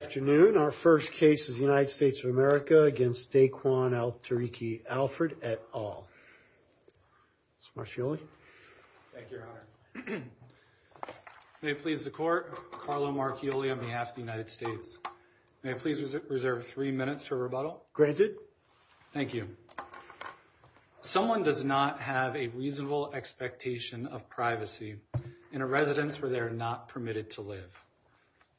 Afternoon, our first case is United States of America against Daquan Al-Tariqi Alford et al. Mr. Marchioli. Thank you, your honor. May it please the court, Carlo Marchioli on behalf of the United States. May I please reserve three minutes for rebuttal? Granted. Thank you. Someone does not have a reasonable expectation of privacy in a residence where they are not permitted to live.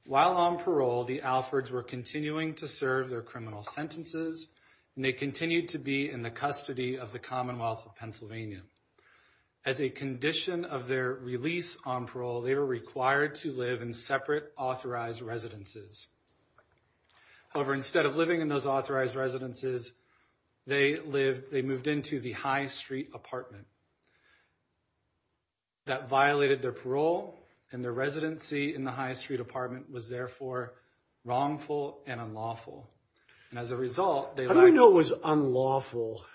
While on parole, the Alford's were continuing to serve their criminal sentences and they continued to be in the custody of the Commonwealth of Pennsylvania. As a condition of their release on parole, they were required to live in separate authorized residences. However, instead of living in those authorized residences, they moved into the high street apartment. Mr. Marchioli That violated their parole and their residency in the high street apartment was therefore wrongful and unlawful. And as a result, they- How do we know it was unlawful?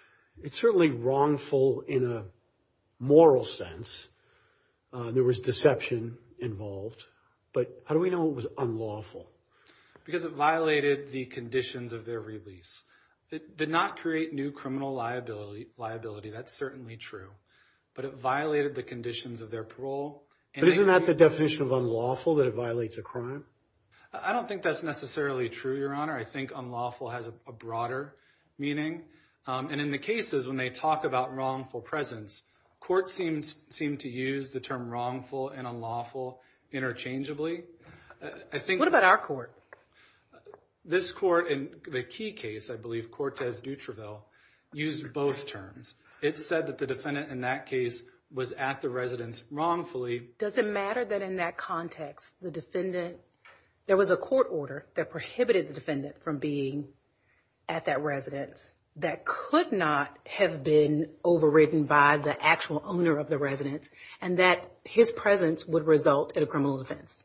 It's certainly wrongful in a moral sense. There was deception involved, but how do we know it was unlawful? Because it violated the conditions of their release. It did not create new criminal liability. That's certainly true. But it violated the conditions of their parole. But isn't that the definition of unlawful, that it violates a crime? I don't think that's necessarily true, Your Honor. I think unlawful has a broader meaning. And in the cases, when they talk about wrongful presence, courts seem to use the term wrongful and unlawful interchangeably. I think- What about our court? This court in the key case, I believe, Cortez Dutriville, used both terms. It said that the defendant in that case was at the residence wrongfully. Does it matter that in that context, there was a court order that prohibited the defendant from being at that residence that could not have been overridden by the actual owner of the residence and that his presence would result in a criminal offense?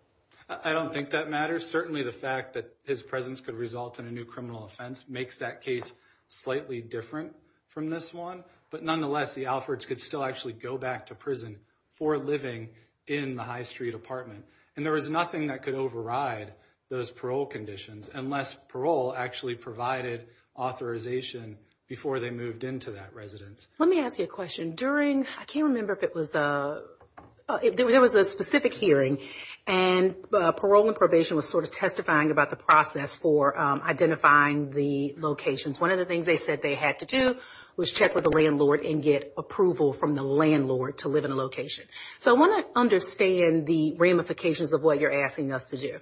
I don't think that matters. Certainly, the fact that his presence could result in a new criminal offense makes that case slightly different from this one. But nonetheless, the Alfords could still actually go back to prison for living in the High Street apartment. And there was nothing that could override those parole conditions unless parole actually provided authorization before they moved into that residence. Let me ask you a question. During- I can't remember if it was- there was a specific hearing and parole and probation was sort of testifying about the process for identifying the locations. One of the things they said they had to do was check with the landlord and get approval from the landlord to live in a location. So, I want to understand the ramifications of what you're asking us to do.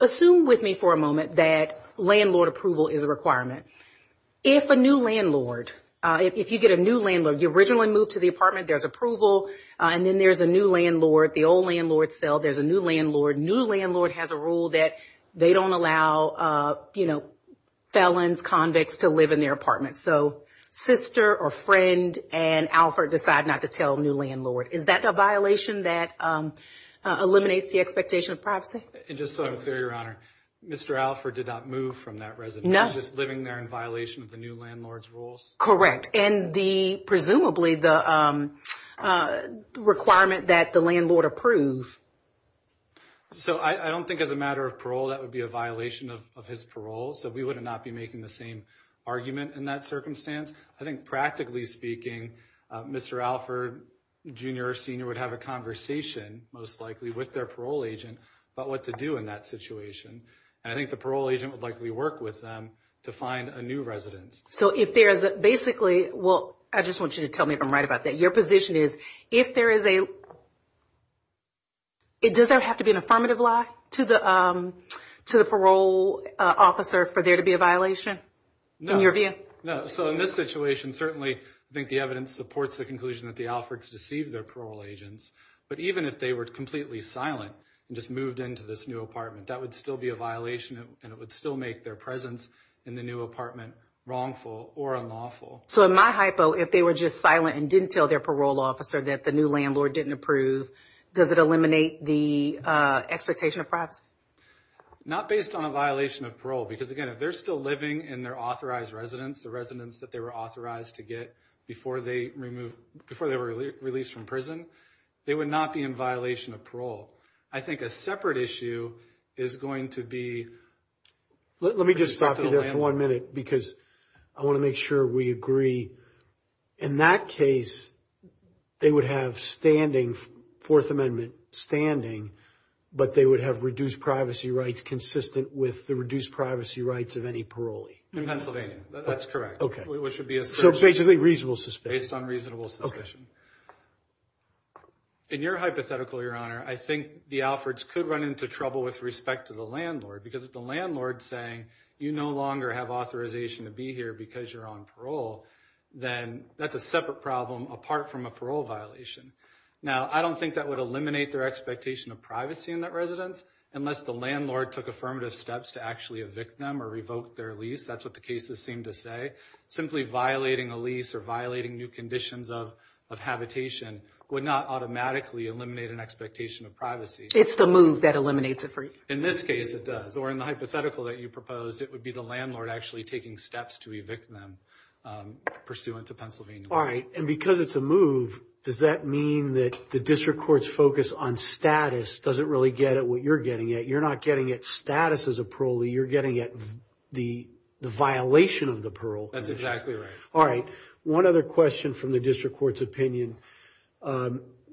Assume with me for a moment that landlord approval is a requirement. If a new landlord- if you get a new landlord, you originally moved to the apartment, there's approval, and then there's a new landlord, the old landlord's cell, there's a new landlord. New landlord has a rule that they don't allow, you know, felons, convicts to live in their apartment. So, sister or friend and Alford decide not to tell new landlord. Is that a violation that eliminates the expectation of privacy? And just so I'm clear, Your Honor, Mr. Alford did not move from that residence. He's just living there in violation of the new landlord's rules. Correct. And the- So, I don't think as a matter of parole that would be a violation of his parole. So, we would not be making the same argument in that circumstance. I think practically speaking, Mr. Alford, junior or senior, would have a conversation most likely with their parole agent about what to do in that situation. And I think the parole agent would likely work with them to find a new residence. So, if there's basically- well, I just want you to tell me if I'm right about that. Your position is if there is a- it doesn't have to be an affirmative lie to the parole officer for there to be a violation in your view? No. So, in this situation, certainly, I think the evidence supports the conclusion that the Alfords deceived their parole agents. But even if they were completely silent and just moved into this new apartment, that would still be a violation and it would still make their presence in the new apartment wrongful or unlawful. So, in my hypo, if they were just and didn't tell their parole officer that the new landlord didn't approve, does it eliminate the expectation of privacy? Not based on a violation of parole. Because again, if they're still living in their authorized residence, the residence that they were authorized to get before they were released from prison, they would not be in violation of parole. I think a separate issue is going to be- Let me just stop you there for one minute because I want to make sure we agree. In that case, they would have standing, Fourth Amendment standing, but they would have reduced privacy rights consistent with the reduced privacy rights of any parolee. In Pennsylvania. That's correct. Okay. Which would be a- So, basically, reasonable suspicion. Based on reasonable suspicion. In your hypothetical, Your Honor, I think the Alfords could run into trouble with respect to because if the landlord's saying, you no longer have authorization to be here because you're on parole, then that's a separate problem apart from a parole violation. Now, I don't think that would eliminate their expectation of privacy in that residence unless the landlord took affirmative steps to actually evict them or revoke their lease. That's what the cases seem to say. Simply violating a lease or violating new conditions of habitation would not automatically eliminate an expectation of privacy. It's the move that eliminates it for you. In this case, it does. Or in the hypothetical that you proposed, it would be the landlord actually taking steps to evict them pursuant to Pennsylvania. All right. And because it's a move, does that mean that the district court's focus on status doesn't really get at what you're getting at? You're not getting at status as a parolee. You're getting at the violation of the parole. That's exactly right. All right. One other question from the district court's opinion.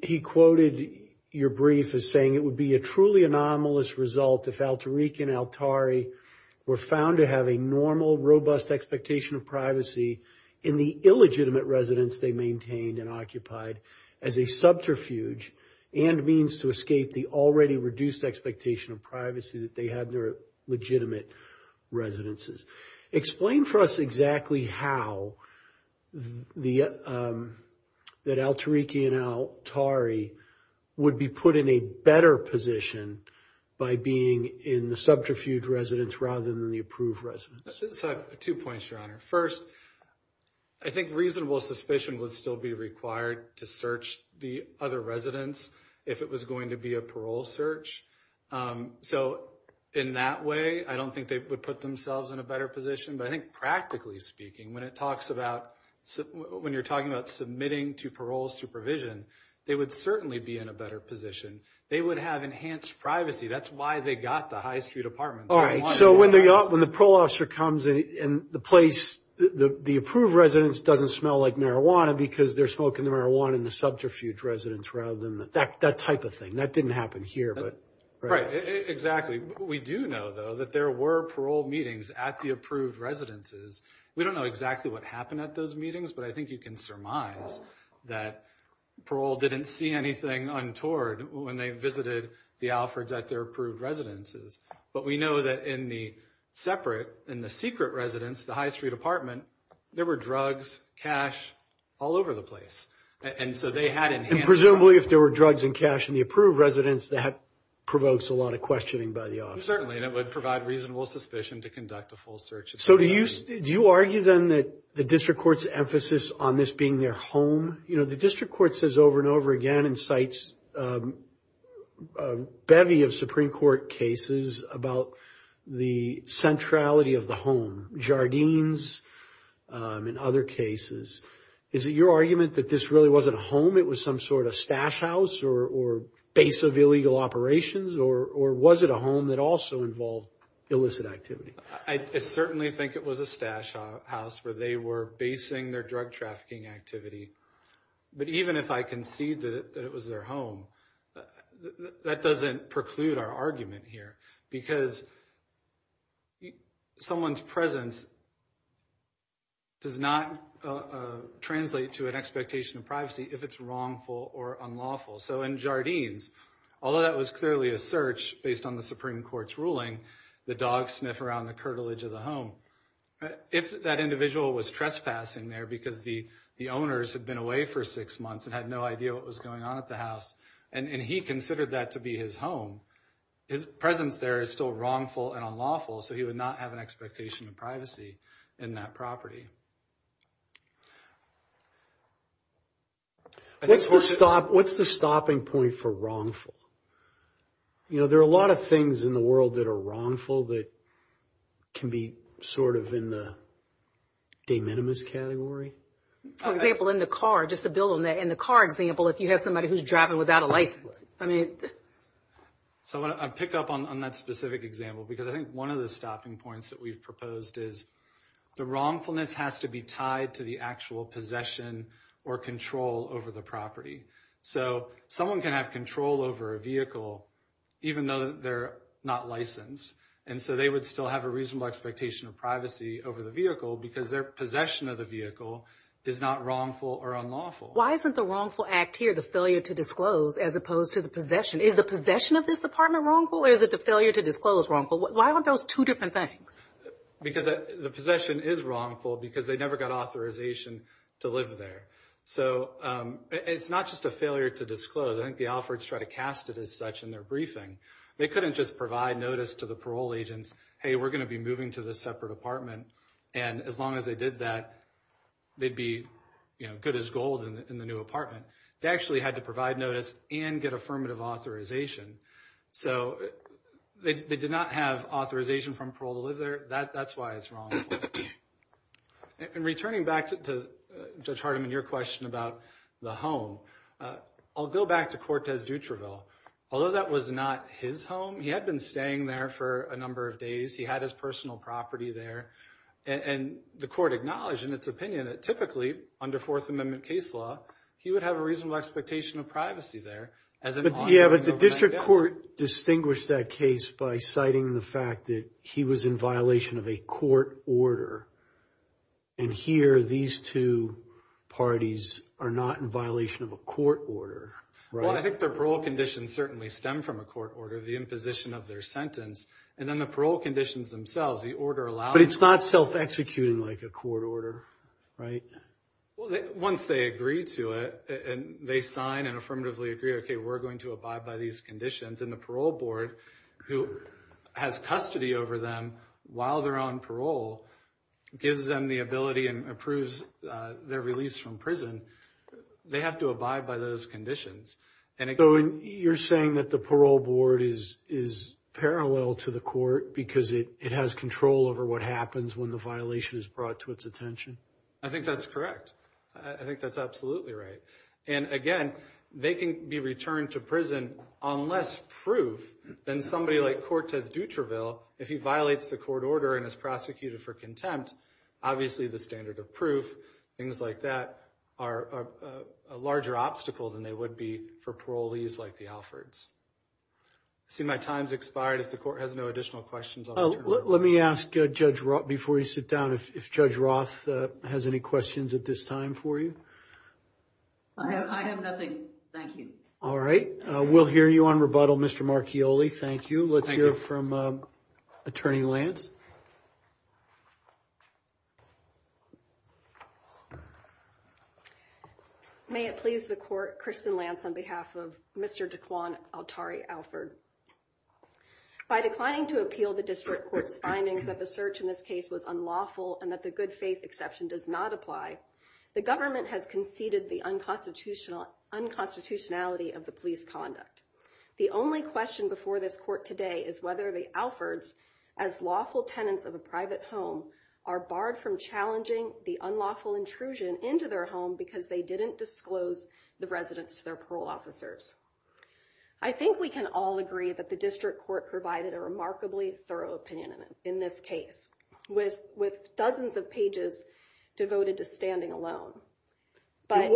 He quoted your brief as saying it would be a truly anomalous result if Altarico and Altari were found to have a normal, robust expectation of privacy in the illegitimate residence they maintained and occupied as a subterfuge and means to escape the already reduced expectation of privacy that they had in their legitimate residences. Explain for us exactly how the, that Altarico and Altari would be put in a better position by being in the subterfuge residence rather than the approved residence. So I have two points, Your Honor. First, I think reasonable suspicion would still be required to search the other residence if it was going to be a parole search. So in that way, I don't think they would put themselves in a better position. But I think practically speaking, when it talks about, when you're talking about submitting to parole supervision, they would certainly be in a better position. They would have enhanced privacy. That's why they got the high street apartment. All right. So when the parole officer comes in the place, the approved residence doesn't smell like marijuana because they're smoking the marijuana in the subterfuge residence rather than, that type of thing. That didn't happen here. Right. Exactly. We do know though that there were parole meetings at the approved residences. We don't know exactly what happened at those meetings, but I think you can surmise that parole didn't see anything untoward when they visited the Alfreds at their approved residences. But we know that in the separate, in the secret residence, the high street apartment, there were drugs, cash all over the place. And so they had enhanced- Provokes a lot of questioning by the officer. Certainly. And it would provide reasonable suspicion to conduct a full search. So do you, do you argue then that the district court's emphasis on this being their home? You know, the district court says over and over again, and cites a bevy of Supreme Court cases about the centrality of the home, Jardines and other cases. Is it your argument that this really wasn't a home? It was some sort of stash house or base of illegal operations, or was it a home that also involved illicit activity? I certainly think it was a stash house where they were basing their drug trafficking activity. But even if I concede that it was their home, that doesn't preclude our argument here because someone's presence does not translate to an expectation of privacy if it's wrongful or unlawful. So in Jardines, although that was clearly a search based on the Supreme Court's ruling, the dog sniff around the curtilage of the home, if that individual was trespassing there because the owners had been away for six months and had no idea what was going on at the house, and he considered that to be his home, his presence there is still wrongful and unlawful, so he would not have an expectation of privacy in that property. What's the stopping point for wrongful? You know, there are a lot of things in the world that are wrongful that can be sort of in the de minimis category. For example, in the car, just to build on that, in the car example, if you have somebody who's driving without a license. So I pick up on that specific example because I think one of the stopping points that we've is the wrongfulness has to be tied to the actual possession or control over the property. So someone can have control over a vehicle even though they're not licensed, and so they would still have a reasonable expectation of privacy over the vehicle because their possession of the vehicle is not wrongful or unlawful. Why isn't the wrongful act here the failure to disclose as opposed to the possession? Is the possession of this apartment wrongful or is it the failure to disclose wrongful? Why aren't those two different things? Because the possession is wrongful because they never got authorization to live there. So it's not just a failure to disclose. I think the Alfreds try to cast it as such in their briefing. They couldn't just provide notice to the parole agents, hey, we're going to be moving to this separate apartment, and as long as they did that, they'd be, you know, good as gold in the new apartment. They actually had to they did not have authorization from parole to live there. That's why it's wrongful. In returning back to Judge Hardiman, your question about the home, I'll go back to Cortez Dutraville. Although that was not his home, he had been staying there for a number of days. He had his personal property there, and the court acknowledged in its opinion that typically under Fourth Amendment case law, he would have a reasonable expectation of privacy there. Yeah, but the district court distinguished that case by citing the fact that he was in violation of a court order. And here, these two parties are not in violation of a court order, right? Well, I think their parole conditions certainly stem from a court order, the imposition of their sentence. And then the parole conditions themselves, the order allows... But it's not self-executing like a court order, right? Well, once they agree to it, and they sign and affirmatively agree, okay, we're going to abide by these conditions. And the parole board, who has custody over them while they're on parole, gives them the ability and approves their release from prison. They have to abide by those conditions. You're saying that the parole board is parallel to the court because it has control over what happens when the violation is brought to its attention? I think that's correct. I think that's absolutely right. And again, they can be returned to prison unless proof, then somebody like Cortez Dutraville, if he violates the court order and is prosecuted for contempt, obviously the standard of proof, things like that, are a larger obstacle than they would be for parolees like the Alfords. I see my time's expired. If the court has no additional questions... Let me ask Judge Roth, before you sit down, if Judge Roth has any questions at this time for you. I have nothing. Thank you. All right. We'll hear you on rebuttal, Mr. Marchioli. Thank you. Let's hear from Attorney Lance. May it please the court, Kristen Lance on behalf of Mr. Dequan Altari Alford. By declining to appeal the district court's findings that the search in this case was unlawful and that the good faith exception does not apply, the government has conceded the unconstitutionality of the police conduct. The only question before this court today is whether the Alfords, as lawful tenants of a private home, are barred from challenging the unlawful intrusion into their home because they didn't disclose the residents to their parole officers. I think we can all agree that the district court provided a remarkably thorough opinion in this case, with dozens of pages devoted to standing alone.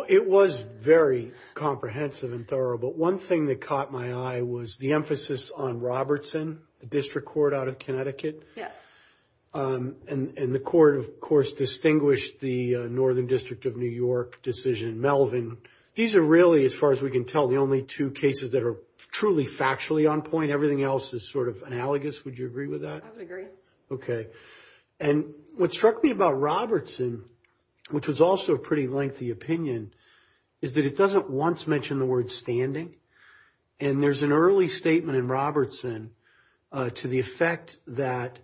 It was very comprehensive and thorough, but one thing that caught my eye was the emphasis on Robertson, the district court out of Connecticut. And the court, of course, distinguished the Northern District of New York decision in Melvin. These are really, as far as we can tell, the only two cases that are truly factually on point. Everything else is sort of analogous. Would you agree with that? I would agree. Okay. And what struck me about Robertson, which was also a pretty lengthy opinion, is that it doesn't once mention the word standing. And there's an early statement in Robertson to the effect that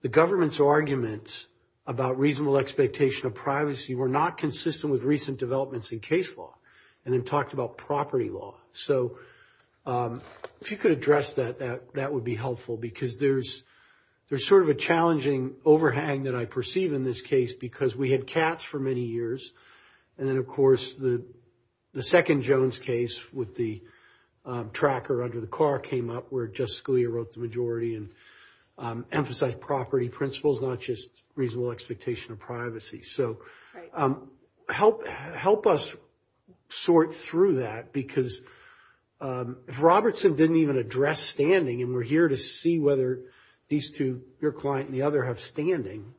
the government's arguments about reasonable expectation of privacy were not consistent with recent developments in case law, and then talked about property law. So if you could address that, that would be helpful, because there's sort of a challenging overhang that I perceive in this case, because we had cats for many years. And then, of course, the second Jones case with the tracker under the car came up where Justice Scalia wrote the majority and emphasized property principles, not just reasonable expectation of privacy. So help us sort through that, because if Robertson didn't even address standing, and we're here to see whether these two, your client and the other, have standing,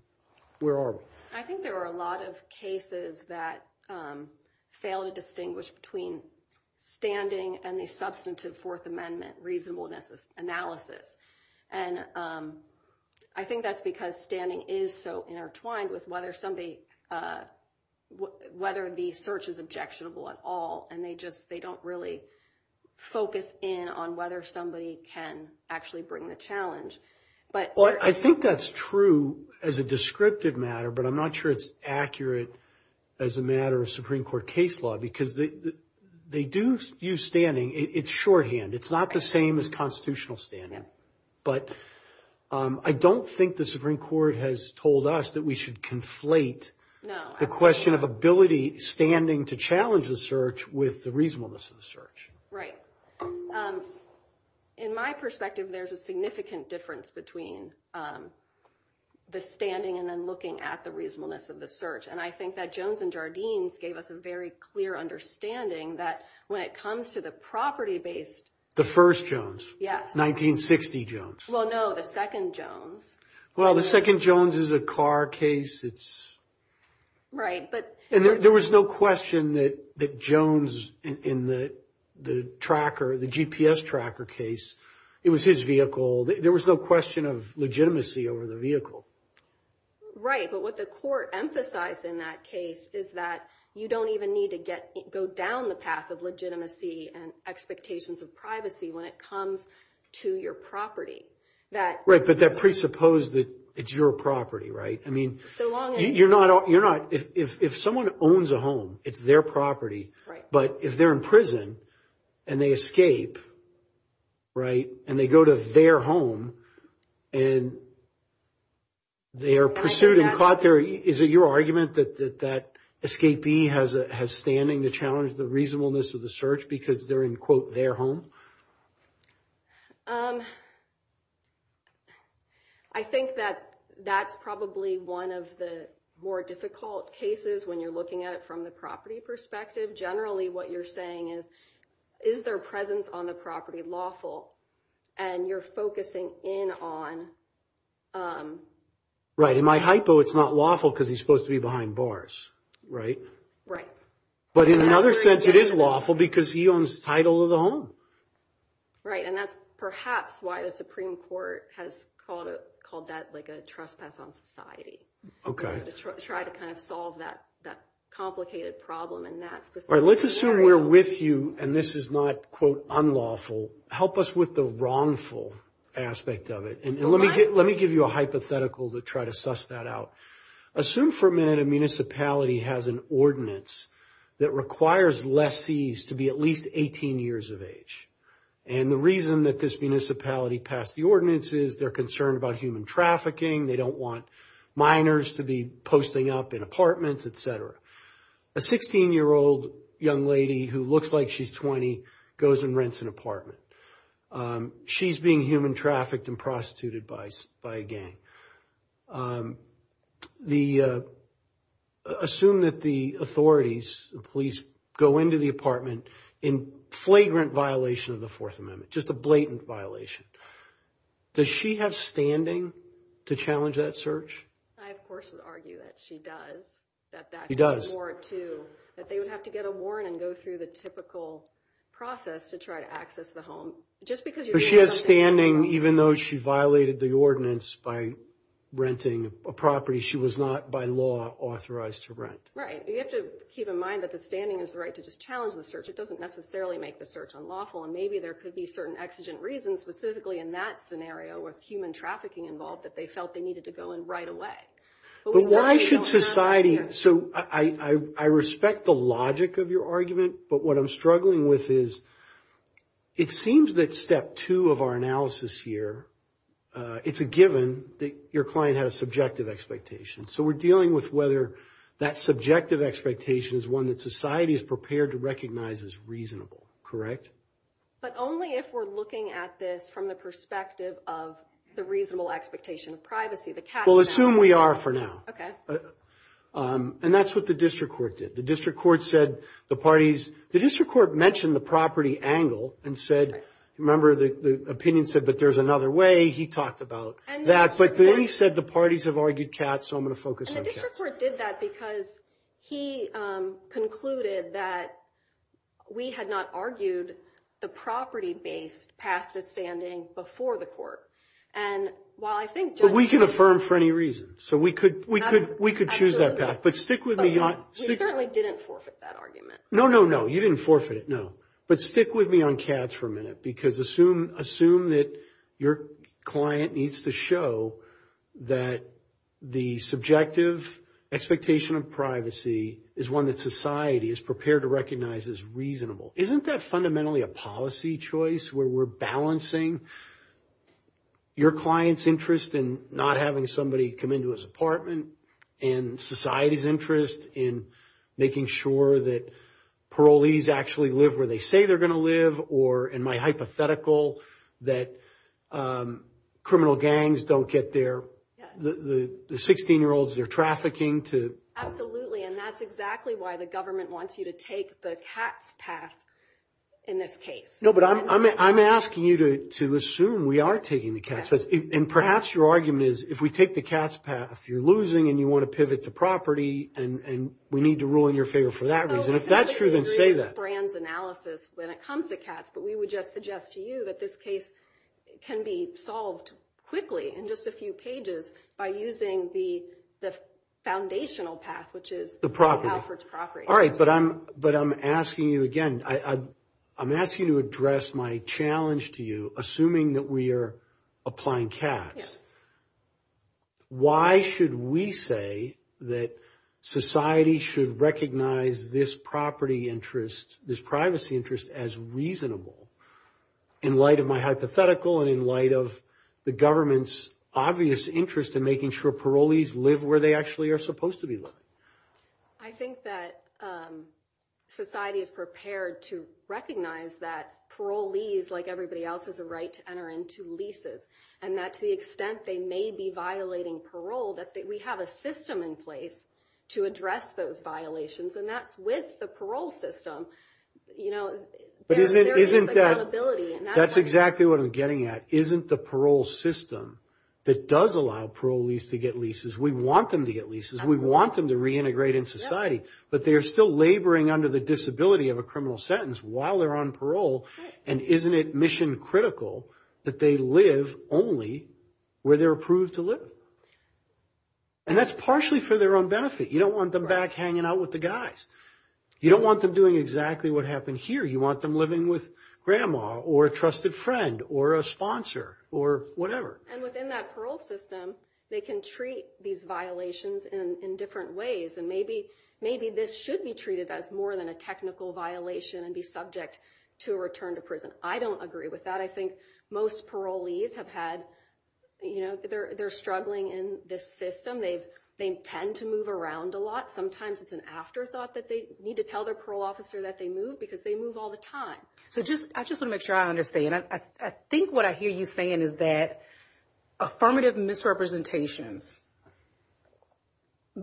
where are we? I think there are a lot of cases that fail to distinguish between standing and the substantive Fourth Amendment reasonableness analysis. And I think that's because standing is so intertwined with whether the search is objectionable at all, and they don't really focus in on whether somebody can actually bring the challenge. I think that's true as a descriptive matter, but I'm not sure it's accurate as a matter of Supreme Court case law, because they do use standing. It's shorthand. It's not the same as constitutional standing. But I don't think the Supreme Court has told us that we should conflate the question of ability standing to challenge the search with the reasonableness of the search. Right. In my perspective, there's a significant difference between the standing and then looking at the reasonableness of the search. And I think that Jones and Jardines gave us a very clear understanding that when it comes to the property-based... The first Jones. Yes. 1960 Jones. Well, no, the second Jones. Well, the second Jones is a car case. It's... Right, but... And there was no question that Jones in the GPS tracker case, it was his vehicle. There was no question of legitimacy over the vehicle. Right. But what the court emphasized in that case is that you don't even need to go down the path of legitimacy and expectations of privacy when it comes to your property. Right. But that presupposed that it's your property, right? I mean... So long as... You're not... If someone owns a home, it's their property. Right. But if they're in prison and they escape, right, and they go to their home and they are pursued and caught there, is it your argument that that escapee has standing to reasonableness of the search because they're in, quote, their home? I think that that's probably one of the more difficult cases when you're looking at it from the property perspective. Generally, what you're saying is, is their presence on the property lawful? And you're focusing in on... Right. In my hypo, it's not lawful because he's supposed to be behind bars, right? Right. But in another sense, it is lawful because he owns the title of the home. Right. And that's perhaps why the Supreme Court has called that like a trespass on society. Okay. To try to kind of solve that complicated problem in that specific area. All right. Let's assume we're with you and this is not, quote, unlawful. Help us with the wrongful aspect of it. And let me give you a hypothetical to try to suss that out. Assume for a minute a municipality has an ordinance that requires lessees to be at least 18 years of age. And the reason that this municipality passed the ordinance is they're concerned about human trafficking. They don't want minors to be posting up in apartments, etc. A 16-year-old young lady who looks like she's 20 goes and rents an apartment. She's being human trafficked and prostituted by a gang. The... Assume that the authorities, the police, go into the apartment in flagrant violation of the Fourth Amendment, just a blatant violation. Does she have standing to challenge that search? I, of course, would argue that she does. She does. That they would have to get a warrant and go through the typical process to try to access the home. Just because she has standing, even though she violated the ordinance by renting a property, she was not by law authorized to rent. Right. You have to keep in mind that the standing is the right to just challenge the search. It doesn't necessarily make the search unlawful. And maybe there could be certain exigent reasons, specifically in that scenario with human trafficking involved, that they felt they needed to go in right away. But we certainly don't have that here. But why should society... So I respect the logic of your argument, but what I'm struggling with is it seems that step two of our analysis here, it's a given that your client had a subjective expectation. So we're dealing with whether that subjective expectation is one that society is prepared to recognize as reasonable. Correct? But only if we're looking at this from the perspective of the reasonable expectation of privacy, the... We'll assume we are for now. Okay. And that's what the district court did. The district court said the parties... The district mentioned the property angle and said, remember the opinion said, but there's another way. He talked about that. But then he said the parties have argued cats, so I'm going to focus on cats. And the district court did that because he concluded that we had not argued the property-based path to standing before the court. And while I think judges... But we can affirm for any reason. So we could choose that path. But stick with me. But we certainly didn't forfeit that argument. No, no, no. You didn't forfeit it. No. But stick with me on cats for a minute because assume that your client needs to show that the subjective expectation of privacy is one that society is prepared to recognize as reasonable. Isn't that fundamentally a policy choice where we're balancing your client's interest in not having somebody come into his apartment and society's interest in making sure that parolees actually live where they say they're going to live or, in my hypothetical, that criminal gangs don't get their... The 16-year-olds they're trafficking to... Absolutely. And that's exactly why the government wants you to take the cats path in this case. No, but I'm asking you to assume we are taking the cats path. And perhaps your argument is if we take the cats path, you're losing and you want to pivot to property, and we need to rule in your favor for that reason. If that's true, then say that. No, I totally agree with Brand's analysis when it comes to cats. But we would just suggest to you that this case can be solved quickly in just a few pages by using the foundational path, which is... The property. ...Alfred's property. All right. But I'm asking you again. I'm asking you to address my challenge to you, assuming that we are applying cats. Why should we say that society should recognize this property interest, this privacy interest, as reasonable in light of my hypothetical and in light of the government's obvious interest in making sure parolees live where they actually are supposed to be living? I think that society is prepared to recognize that parolees, like everybody else, has a right to enter into leases. And that to the extent they may be violating parole, that we have a system in place to address those violations. And that's with the parole system. You know, there is accountability. But isn't that... That's exactly what I'm getting at. Isn't the parole system that does allow parolees to get leases. We want them to get leases. We want them to reintegrate in society. But they are still laboring under the disability of a criminal sentence while they're on parole. And isn't it mission critical that they live only where they're approved to live? And that's partially for their own benefit. You don't want them back hanging out with the guys. You don't want them doing exactly what happened here. You want them living with grandma or a trusted friend or a sponsor or whatever. And within that parole system, they can treat these violations in different ways. And maybe this should be treated as more than a technical violation and be subject to a return to prison. I don't agree with that. I think most parolees have had... You know, they're struggling in this system. They tend to move around a lot. Sometimes it's an afterthought that they need to tell their parole officer that they moved because they move all the time. So I just want to make sure I understand. I think what I hear you saying is that affirmative misrepresentations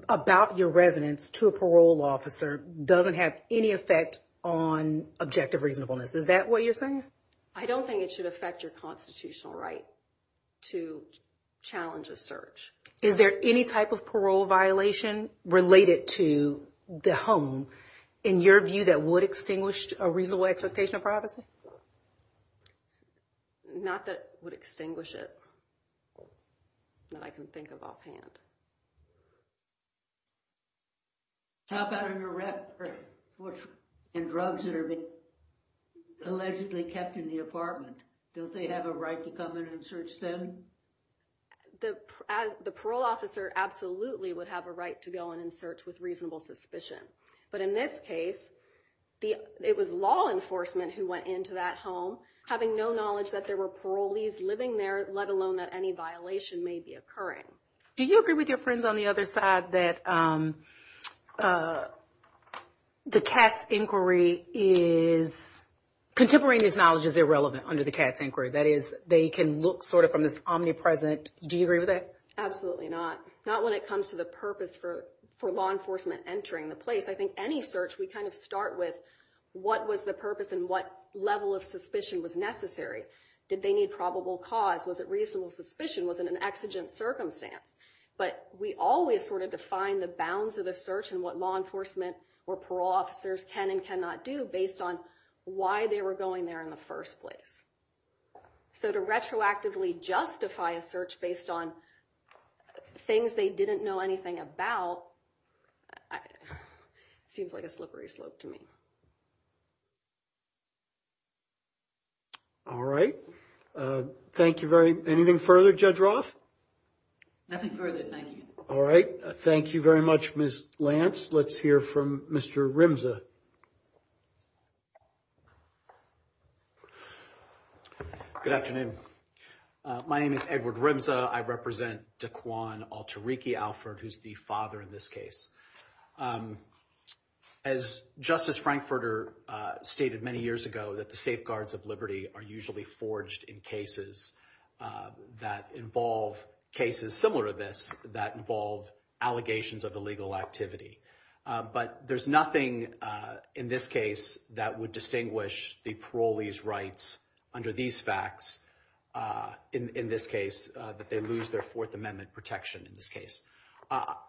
about your residence to a parole officer doesn't have any effect on objective reasonableness. Is that what you're saying? I don't think it should affect your constitutional right to challenge a search. Is there any type of parole violation related to the home, in your view, that would extinguish a reasonable expectation of privacy? Not that would extinguish it that I can think of offhand. How about in drugs that are being allegedly kept in the apartment? Don't they have a right to come in and search then? The parole officer absolutely would have a right to go in and search with reasonable suspicion. But in this case, it was law enforcement who went into that home, having no knowledge that there were parolees living there, let alone that any violation may be occurring. Do you agree with your friends on the other side that the Katz inquiry is... Contemporary knowledge is irrelevant under the Katz inquiry. That is, they can look sort of from this omnipresent... Do you agree with that? Absolutely not. Not when it comes to the purpose for law enforcement entering the place. I think any search, we kind of start with what was the purpose and what level of suspicion was necessary. Did they need probable cause? Was it reasonable suspicion? Was it an exigent circumstance? But we always sort of define the bounds of the search and what law enforcement or parole officers can and cannot do based on why they were going there in the first place. So to retroactively justify a search based on things they didn't know anything about, seems like a slippery slope to me. All right. Thank you very... Anything further, Judge Roth? Nothing further. Thank you. All right. Thank you very much, Ms. Lance. Let's hear from Mr. Rimza. Good afternoon. My name is Edward Rimza. I represent Daquan Alteriki Alfred, who's the case. As Justice Frankfurter stated many years ago, that the safeguards of liberty are usually forged in cases that involve cases similar to this that involve allegations of illegal activity. But there's nothing in this case that would distinguish the parolees' rights under these facts in this case, that they lose their Fourth Amendment protection in this case.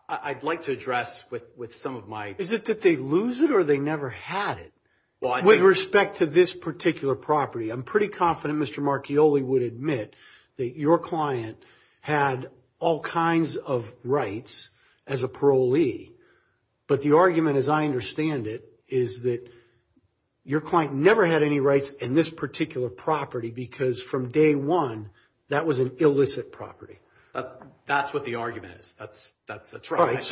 I'd like to address with some of my... Is it that they lose it or they never had it? With respect to this particular property, I'm pretty confident Mr. Marchioli would admit that your client had all kinds of rights as a parolee. But the argument as I understand it is that your client never had any rights in this particular property because from day one, that was an illicit property. That's what the argument is. That's right.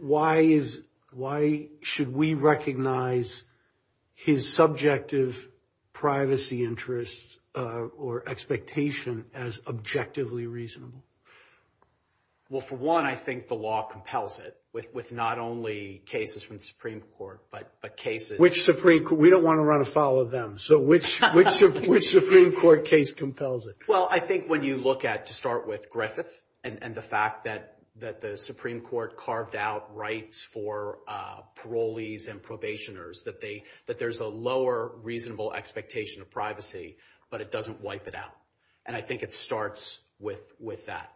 Why should we recognize his subjective privacy interests or expectation as objectively reasonable? Well, for one, I think the law compels it with not only cases from the Supreme Court, but cases... Which Supreme Court? We don't want to run afoul of them. Which Supreme Court case compels it? Well, I think when you look at, to start with, Griffith and the fact that the Supreme Court carved out rights for parolees and probationers, that there's a lower reasonable expectation of privacy, but it doesn't wipe it out. And I think it starts with that.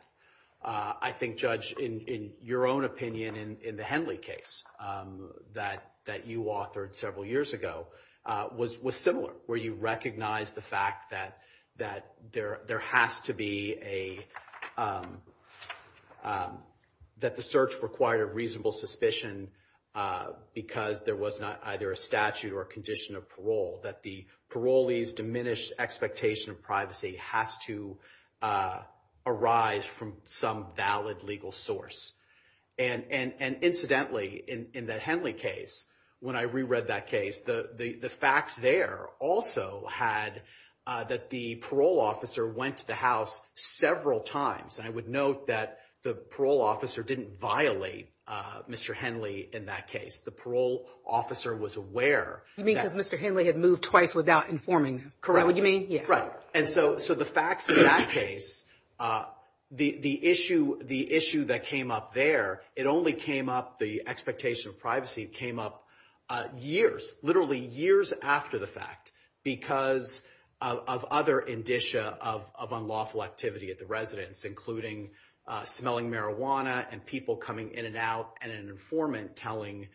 I think, Judge, in your own opinion in the Henley case that you authored several years ago was similar, where you recognize the fact that the search required a reasonable suspicion because there was not either a statute or a condition of parole, that the parolees diminished expectation of privacy has to arise from some valid legal source. And incidentally, in that Henley case, when I reread that case, the facts there also had that the parole officer went to the house several times. And I would note that the parole officer didn't violate Mr. Henley in that case. The parole officer was aware that- You mean because Mr. Henley had moved twice without informing him. Correct. Is that what you mean? Yeah. Right. And so the facts in that case, the issue that came up there, it only came up, the expectation of privacy came up years, literally years after the fact because of other indicia of unlawful activity at the residence, including smelling marijuana and people coming in and out and an informant telling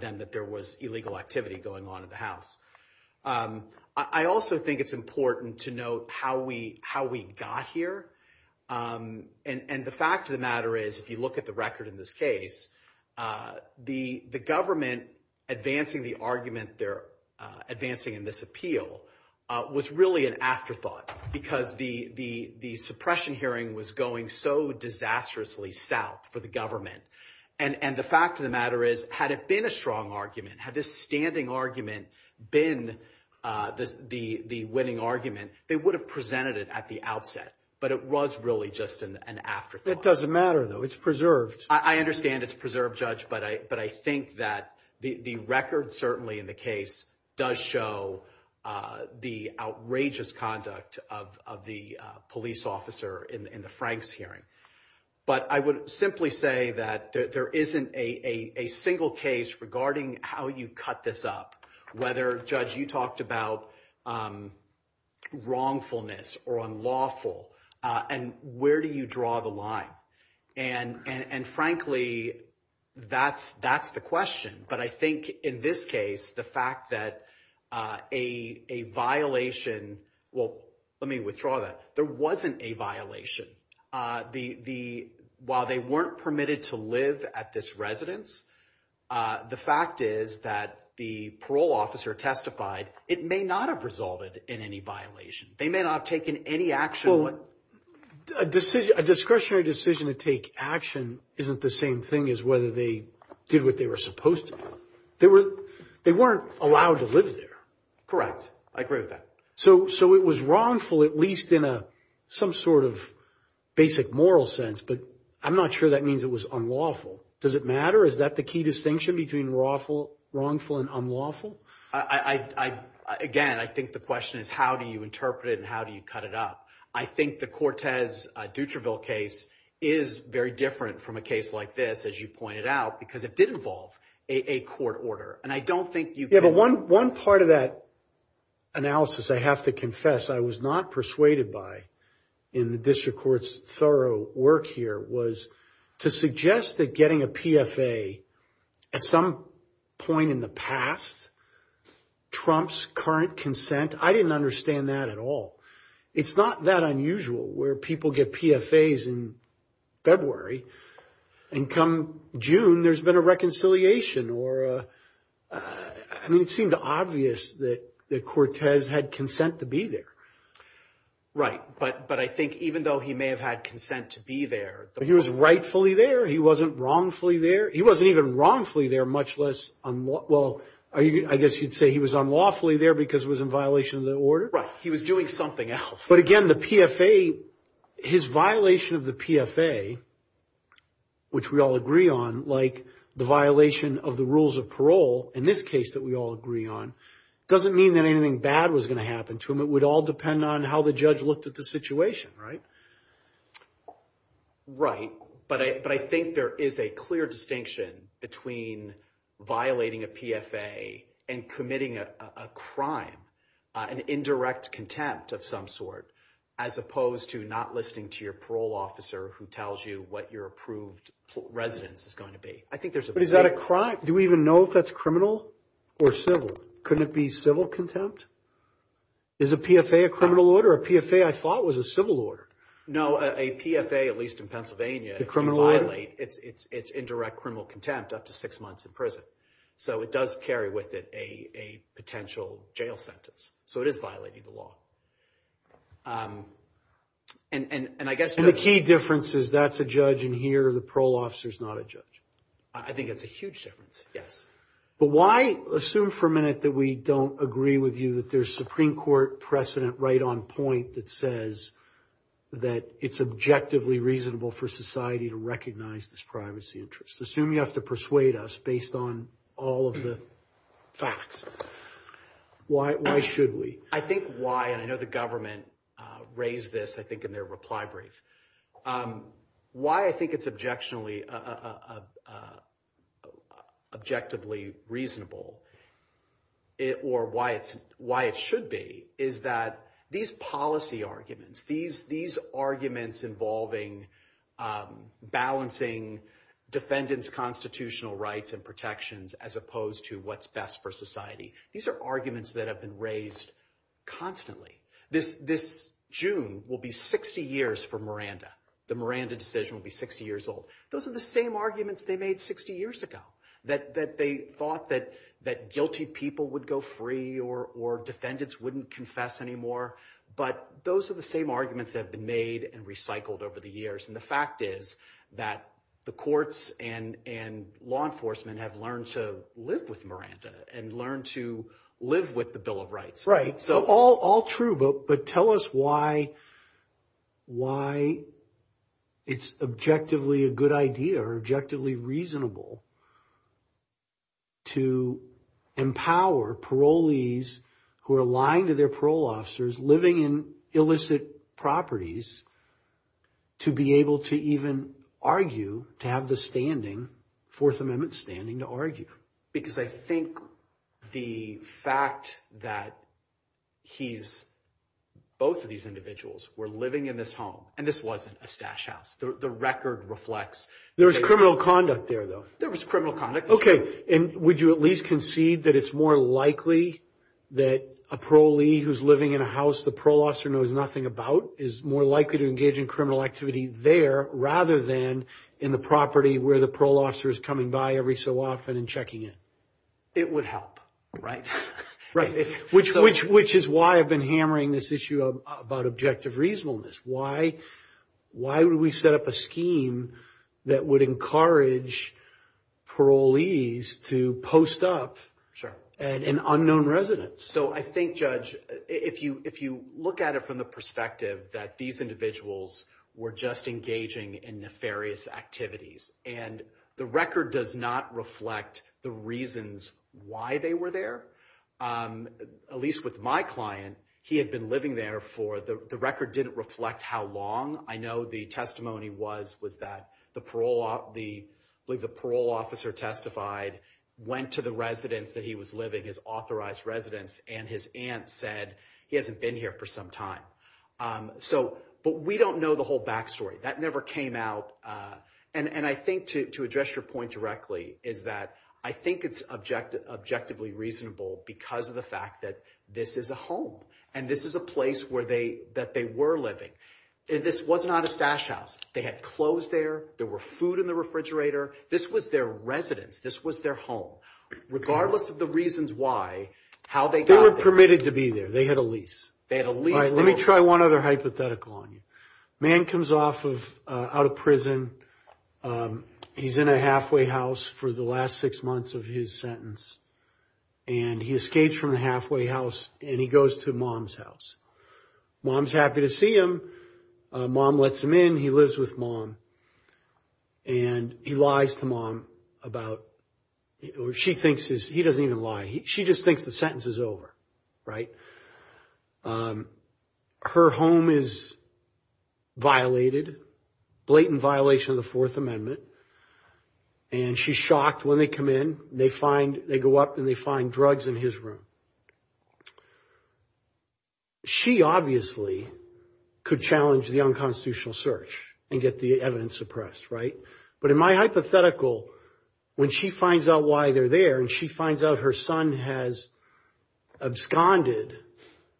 them that there was illegal activity going on at the house. I also think it's important to note how we got here. And the fact of the matter is, you look at the record in this case, the government advancing the argument they're advancing in this appeal was really an afterthought because the suppression hearing was going so disastrously south for the government. And the fact of the matter is, had it been a strong argument, had this standing argument been the winning argument, they would have presented it at the outset. But it was really just an afterthought. That doesn't matter though. It's preserved. I understand it's preserved, Judge, but I think that the record certainly in the case does show the outrageous conduct of the police officer in the Franks hearing. But I would simply say that there isn't a single case regarding how you cut this up, whether, Judge, you talked about wrongfulness or unlawful and where do you draw the line? And frankly, that's the question. But I think in this case, the fact that a violation, well, let me withdraw that, there wasn't a violation. While they weren't permitted to live at this residence, the fact is that the parole officer testified it may not have resolved it in any violation. They may not have taken any action. Well, a discretionary decision to take action isn't the same thing as whether they did what they were supposed to do. They weren't allowed to live there. Correct. I agree with that. So it was wrongful, at least in some sort of basic moral sense, but I'm not sure that means it was unlawful. Does it matter? Is that the key distinction between wrongful and unlawful? Again, I think the question is how do you interpret it and how do you cut it up? I think the Cortez-Dutriville case is very different from a case like this, as you pointed out, because it did involve a court order. And I don't think you can- Yeah, but one part of that analysis, I have to confess, I was not persuaded by in the district court's thorough work here was to suggest that getting a PFA at some point in the past trumps current consent. I didn't understand that at all. It's not that unusual where people get PFAs in February and come June there's been a reconciliation or... I mean, it seemed obvious that Cortez had consent to be there. Right. But I think even though he may have had consent to be there- He was rightfully there. He wasn't wrongfully there. He wasn't even wrongfully there, much less... Well, I guess you'd say he was unlawfully there because it was in violation of the order. Right. He was doing something else. Again, the PFA, his violation of the PFA, which we all agree on, like the violation of the rules of parole in this case that we all agree on, doesn't mean that anything bad was going to happen to him. It would all depend on how the judge looked at the situation, right? Right. But I think there is a clear distinction between violating a PFA and committing a crime, an indirect contempt of some sort, as opposed to not listening to your parole officer who tells you what your approved residence is going to be. I think there's a big- But is that a crime? Do we even know if that's criminal or civil? Couldn't it be civil contempt? Is a PFA a criminal order? A PFA, I thought, was a civil order. No, a PFA, at least in Pennsylvania- The criminal order.... if you violate, it's indirect criminal contempt up to six months in prison. So it does carry with it a potential jail sentence. So it is violating the law. And I guess- And the key difference is that's a judge in here, the parole officer's not a judge. I think it's a huge difference, yes. But why assume for a minute that we don't agree with you that there's Supreme Court precedent right on point that says that it's objectively reasonable for society to recognize this privacy interest? Assume you have to persuade us based on all of the facts. Why should we? I think why, and I know the government raised this, I think, in their reply brief. Why I think it's objectively reasonable, or why it should be, is that these policy arguments, these arguments involving balancing defendant's constitutional rights and protections as opposed to what's best for society, these are arguments that have been raised constantly. This June will be 60 years for Miranda. The Miranda decision will be 60 years old. Those are the same arguments they made 60 years ago, that they thought that guilty people would go free or defendants wouldn't confess anymore. But those are the same arguments that have been made and recycled over the years. And the fact is that the courts and law enforcement have learned to live with Miranda and learned to live with the Bill of Rights. Right. So all true, but tell us why it's objectively a good idea or objectively reasonable to empower parolees who are lying to their parole officers, living in illicit properties, to be able to even argue, to have the standing, Fourth Amendment standing to argue. Because I think the fact that he's, both of these individuals were living in this home, and this wasn't a stash house. The record reflects- There was criminal conduct there though. There was criminal conduct. Okay. And would you at least concede that it's more likely that a parolee who's living in a house the parole officer knows nothing about is more likely to engage in criminal activity there rather than in the property where the parole officer is coming by every so often and checking in? It would help, right? Right. Which is why I've been hammering this issue about objective reasonableness. Why would we set up a scheme that would encourage parolees to post up an unknown resident? Sure. So I think, Judge, if you look at it from the perspective that these individuals were just engaging in nefarious activities, and the record does not reflect the reasons why they were there. At least with my client, he had been living there for, the record didn't reflect how long. I know the testimony was that the parole officer testified, went to the residence that he was living, his authorized residence, and his aunt said, he hasn't been here for some time. But we don't know the whole backstory. That never came out. And I think to address your point directly is that I think it's objectively reasonable because of the fact that this is a home. And this is a place that they were living. This was not a stash house. They had clothes there. There were food in the refrigerator. This was their residence. This was their home. Regardless of the reasons why, how they got there. They were permitted to be there. They had a lease. They had a lease. Let me try one other hypothetical on you. A man comes out of prison. He's in a halfway house for the last six months of his sentence. And he escapes from the halfway house and he goes to mom's house. Mom's happy to see him. Mom lets him in. He lives with mom. And he lies to mom about, or she thinks he doesn't even lie. She just thinks the sentence is over, right? Her home is violated, blatant violation of the fourth amendment. And she's shocked when they come in, they find, they go up and they find drugs in his room. She obviously could challenge the unconstitutional search and get the evidence suppressed, right? But in my hypothetical, when she finds out why they're there and she finds out her son has absconded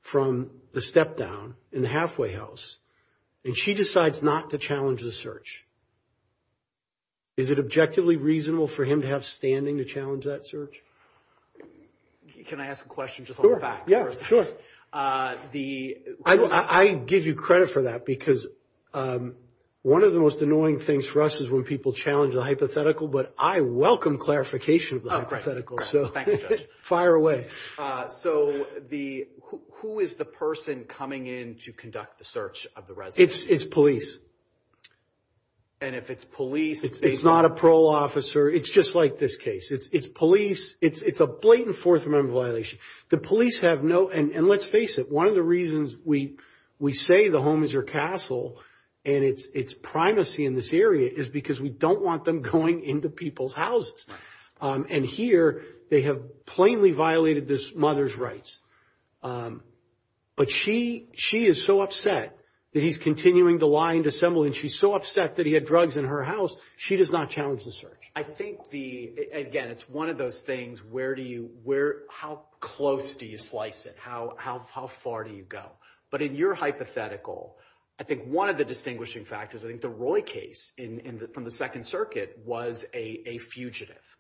from the step down in the halfway house and she decides not to challenge the search, is it objectively reasonable for him to have standing to challenge that search? Can I ask a question just on the facts? Sure. Yeah, sure. I give you credit for that because one of the most annoying things for us is when people challenge the hypothetical, but I welcome clarification of the hypothetical. Oh, great. Thank you, Judge. Fire away. So who is the person coming in to conduct the search of the residence? It's police. And if it's police- It's not a parole officer. It's just like this case. It's police. It's a blatant fourth amendment violation. The police have no, and let's face it, one of the reasons we say the home is her castle and it's primacy in this area is because we don't want them going into people's houses. And here, they have plainly violated this mother's rights. But she is so upset that he's continuing to lie and dissemble and she's so upset that he had drugs in her house, she does not challenge the search. I think, again, it's one of those things, how close do you slice it? How far do you go? But in your hypothetical, I think one of the distinguishing factors, I think the Roy case from the Second Circuit was a fugitive.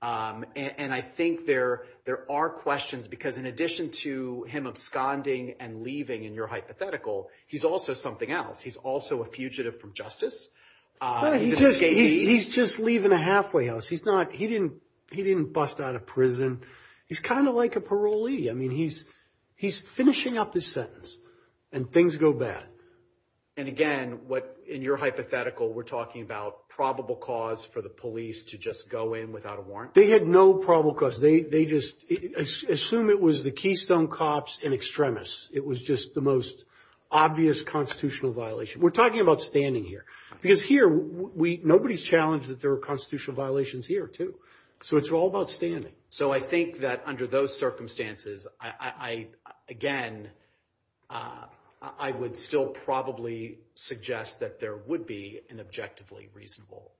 And I think there are questions because in addition to him absconding and leaving in your hypothetical, he's also something else. He's also a fugitive from justice. He's just leaving a halfway house. He didn't bust out of prison. He's kind of like a parolee. I mean, he's finishing up his sentence and things go bad. And again, in your hypothetical, we're talking about probable cause for the police to just go in without a warrant? They had no probable cause. Assume it was the Keystone Cops and extremists. It was just the most obvious constitutional violation. We're talking about standing here. Because here, nobody's challenged that there were constitutional violations here too. So it's all about standing. So I think that under those circumstances, again, I would still probably suggest that there would be an objectively reasonable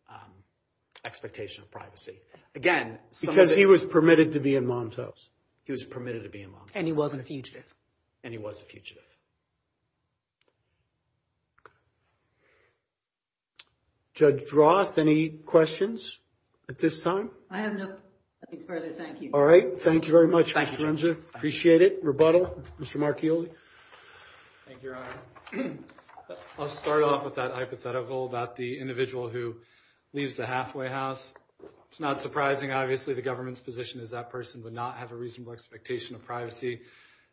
expectation of privacy. Again, some of the- Because he was permitted to be in Mom's house. He was permitted to be in Mom's house. And he wasn't a fugitive. And he was a fugitive. Judge Roth, any questions at this time? I have no further. Thank you. All right. Thank you very much, Ms. Lorenzo. Appreciate it. Rebuttal, Mr. Marchioli. Thank you, Your Honor. I'll start off with that hypothetical about the individual who leaves the halfway house. It's not surprising, obviously, the government's position is that person would not have a reasonable expectation of privacy.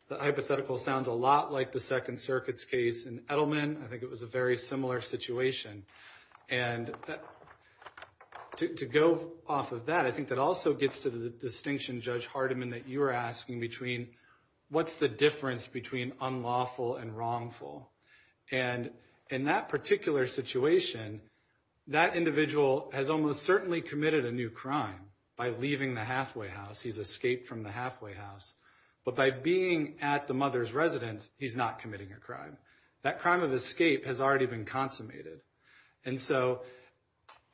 The hypothetical sounds a lot like the Second Circuit's case in Edelman. I think it was a very similar situation. And that- To go off of that, I think that also gets to the distinction, Judge Hardiman, that you were asking between what's the difference between unlawful and wrongful. And in that particular situation, that individual has almost certainly committed a new crime by leaving the halfway house. He's escaped from the halfway house. But by being at the mother's residence, he's not committing a crime. That crime of escape has already been consummated. And so,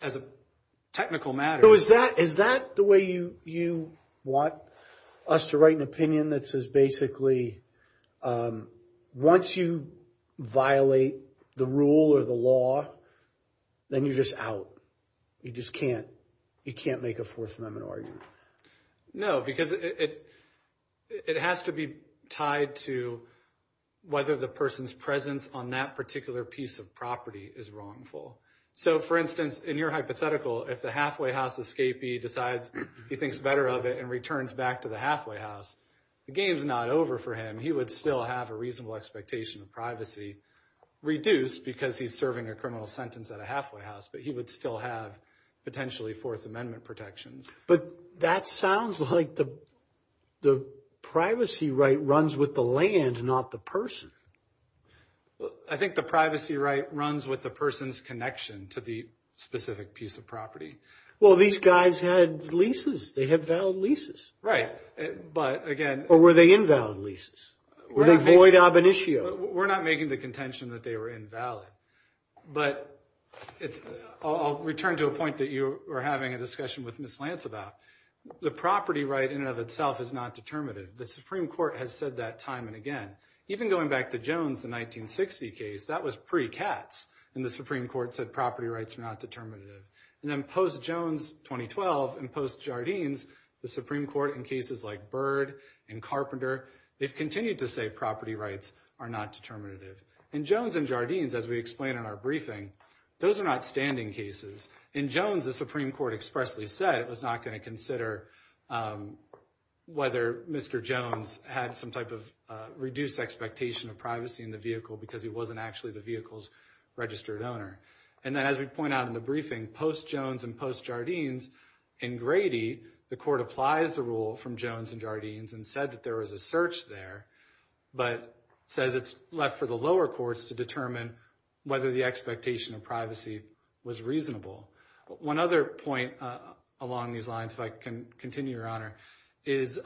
as a technical matter- Is that the way you want us to write an opinion that says, basically, once you violate the rule or the law, then you're just out? You just can't make a Fourth Amendment argument? No, because it has to be tied to whether the person's presence on that particular piece of property is wrongful. So, for instance, in your hypothetical, if the halfway house escapee decides he thinks better of it and returns back to the halfway house, the game's not over for him. He would still have a reasonable expectation of privacy reduced because he's serving a criminal sentence at a halfway house. But he would still have potentially Fourth Amendment protections. But that sounds like the privacy right runs with the land, not the person. I think the privacy right runs with the person's connection to the specific piece of property. Well, these guys had leases. They had valid leases. Right. But again- Or were they invalid leases? Were they void ab initio? We're not making the contention that they were invalid. But I'll return to a point that you were having a discussion with Ms. Lance about. The property right in and of itself is not determinative. The Supreme Court has said that time and again. Even going back to Jones' 1960 case, that was pre-CATS. And the Supreme Court said property rights are not determinative. And then post-Jones 2012 and post-Jardines, the Supreme Court in cases like Byrd and Carpenter, they've continued to say property rights are not determinative. In Jones and Jardines, as we explained in our briefing, those are not standing cases. In Jones, the Supreme Court expressly said it was not going to consider whether Mr. Jones had some type of reduced expectation of privacy in the vehicle because he wasn't actually the vehicle's registered owner. And then as we point out in the briefing, post-Jones and post-Jardines in Grady, the court applies the rule from Jones and Jardines and said that there was a search there, but says it's left for the lower courts to determine whether the expectation of privacy was reasonable. One other point along these lines, if I can continue, Your Honor, is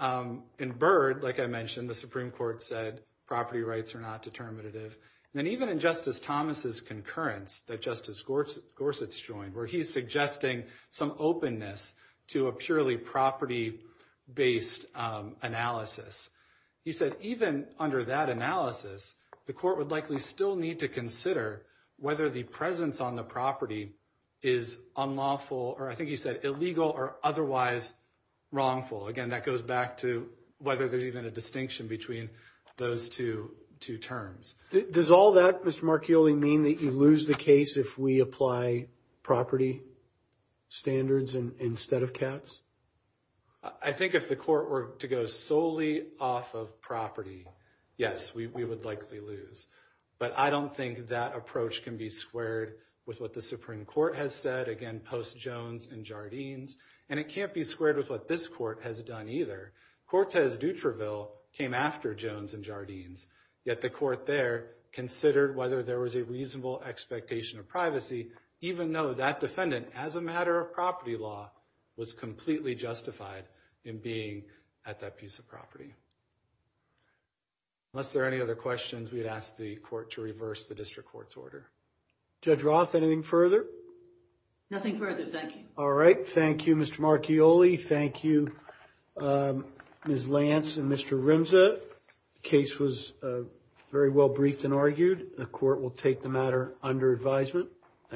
in Byrd, like I mentioned, the Supreme Court said property rights are not determinative. And then even in Justice Thomas' concurrence that Justice Gorsuch joined, where he's suggesting some openness to a purely property-based analysis, he said even under that analysis, the court would likely still need to consider whether the presence on the property is unlawful or, I think he said, illegal or otherwise wrongful. Again, that goes back to whether there's even a distinction between those two terms. Does all that, Mr. Marchioli, mean that you lose the case if we apply property standards instead of cats? I think if the court were to go solely off of property, yes, we would likely lose. But I don't think that approach can be squared with what the Supreme Court has said, again post-Jones and Jardines, and it can't be squared with what this court has done either. Cortez Dutraville came after Jones and Jardines, yet the court there considered whether there was a reasonable expectation of privacy, even though that defendant, as a matter of property law, was completely justified in being at that piece of property. Unless there are any other questions, we'd ask the court to reverse the district court's order. Judge Roth, anything further? Nothing further, thank you. All right, thank you, Mr. Marchioli. Thank you, Ms. Lance and Mr. Rimza. The case was very well briefed and argued. The court will take the matter under advisement.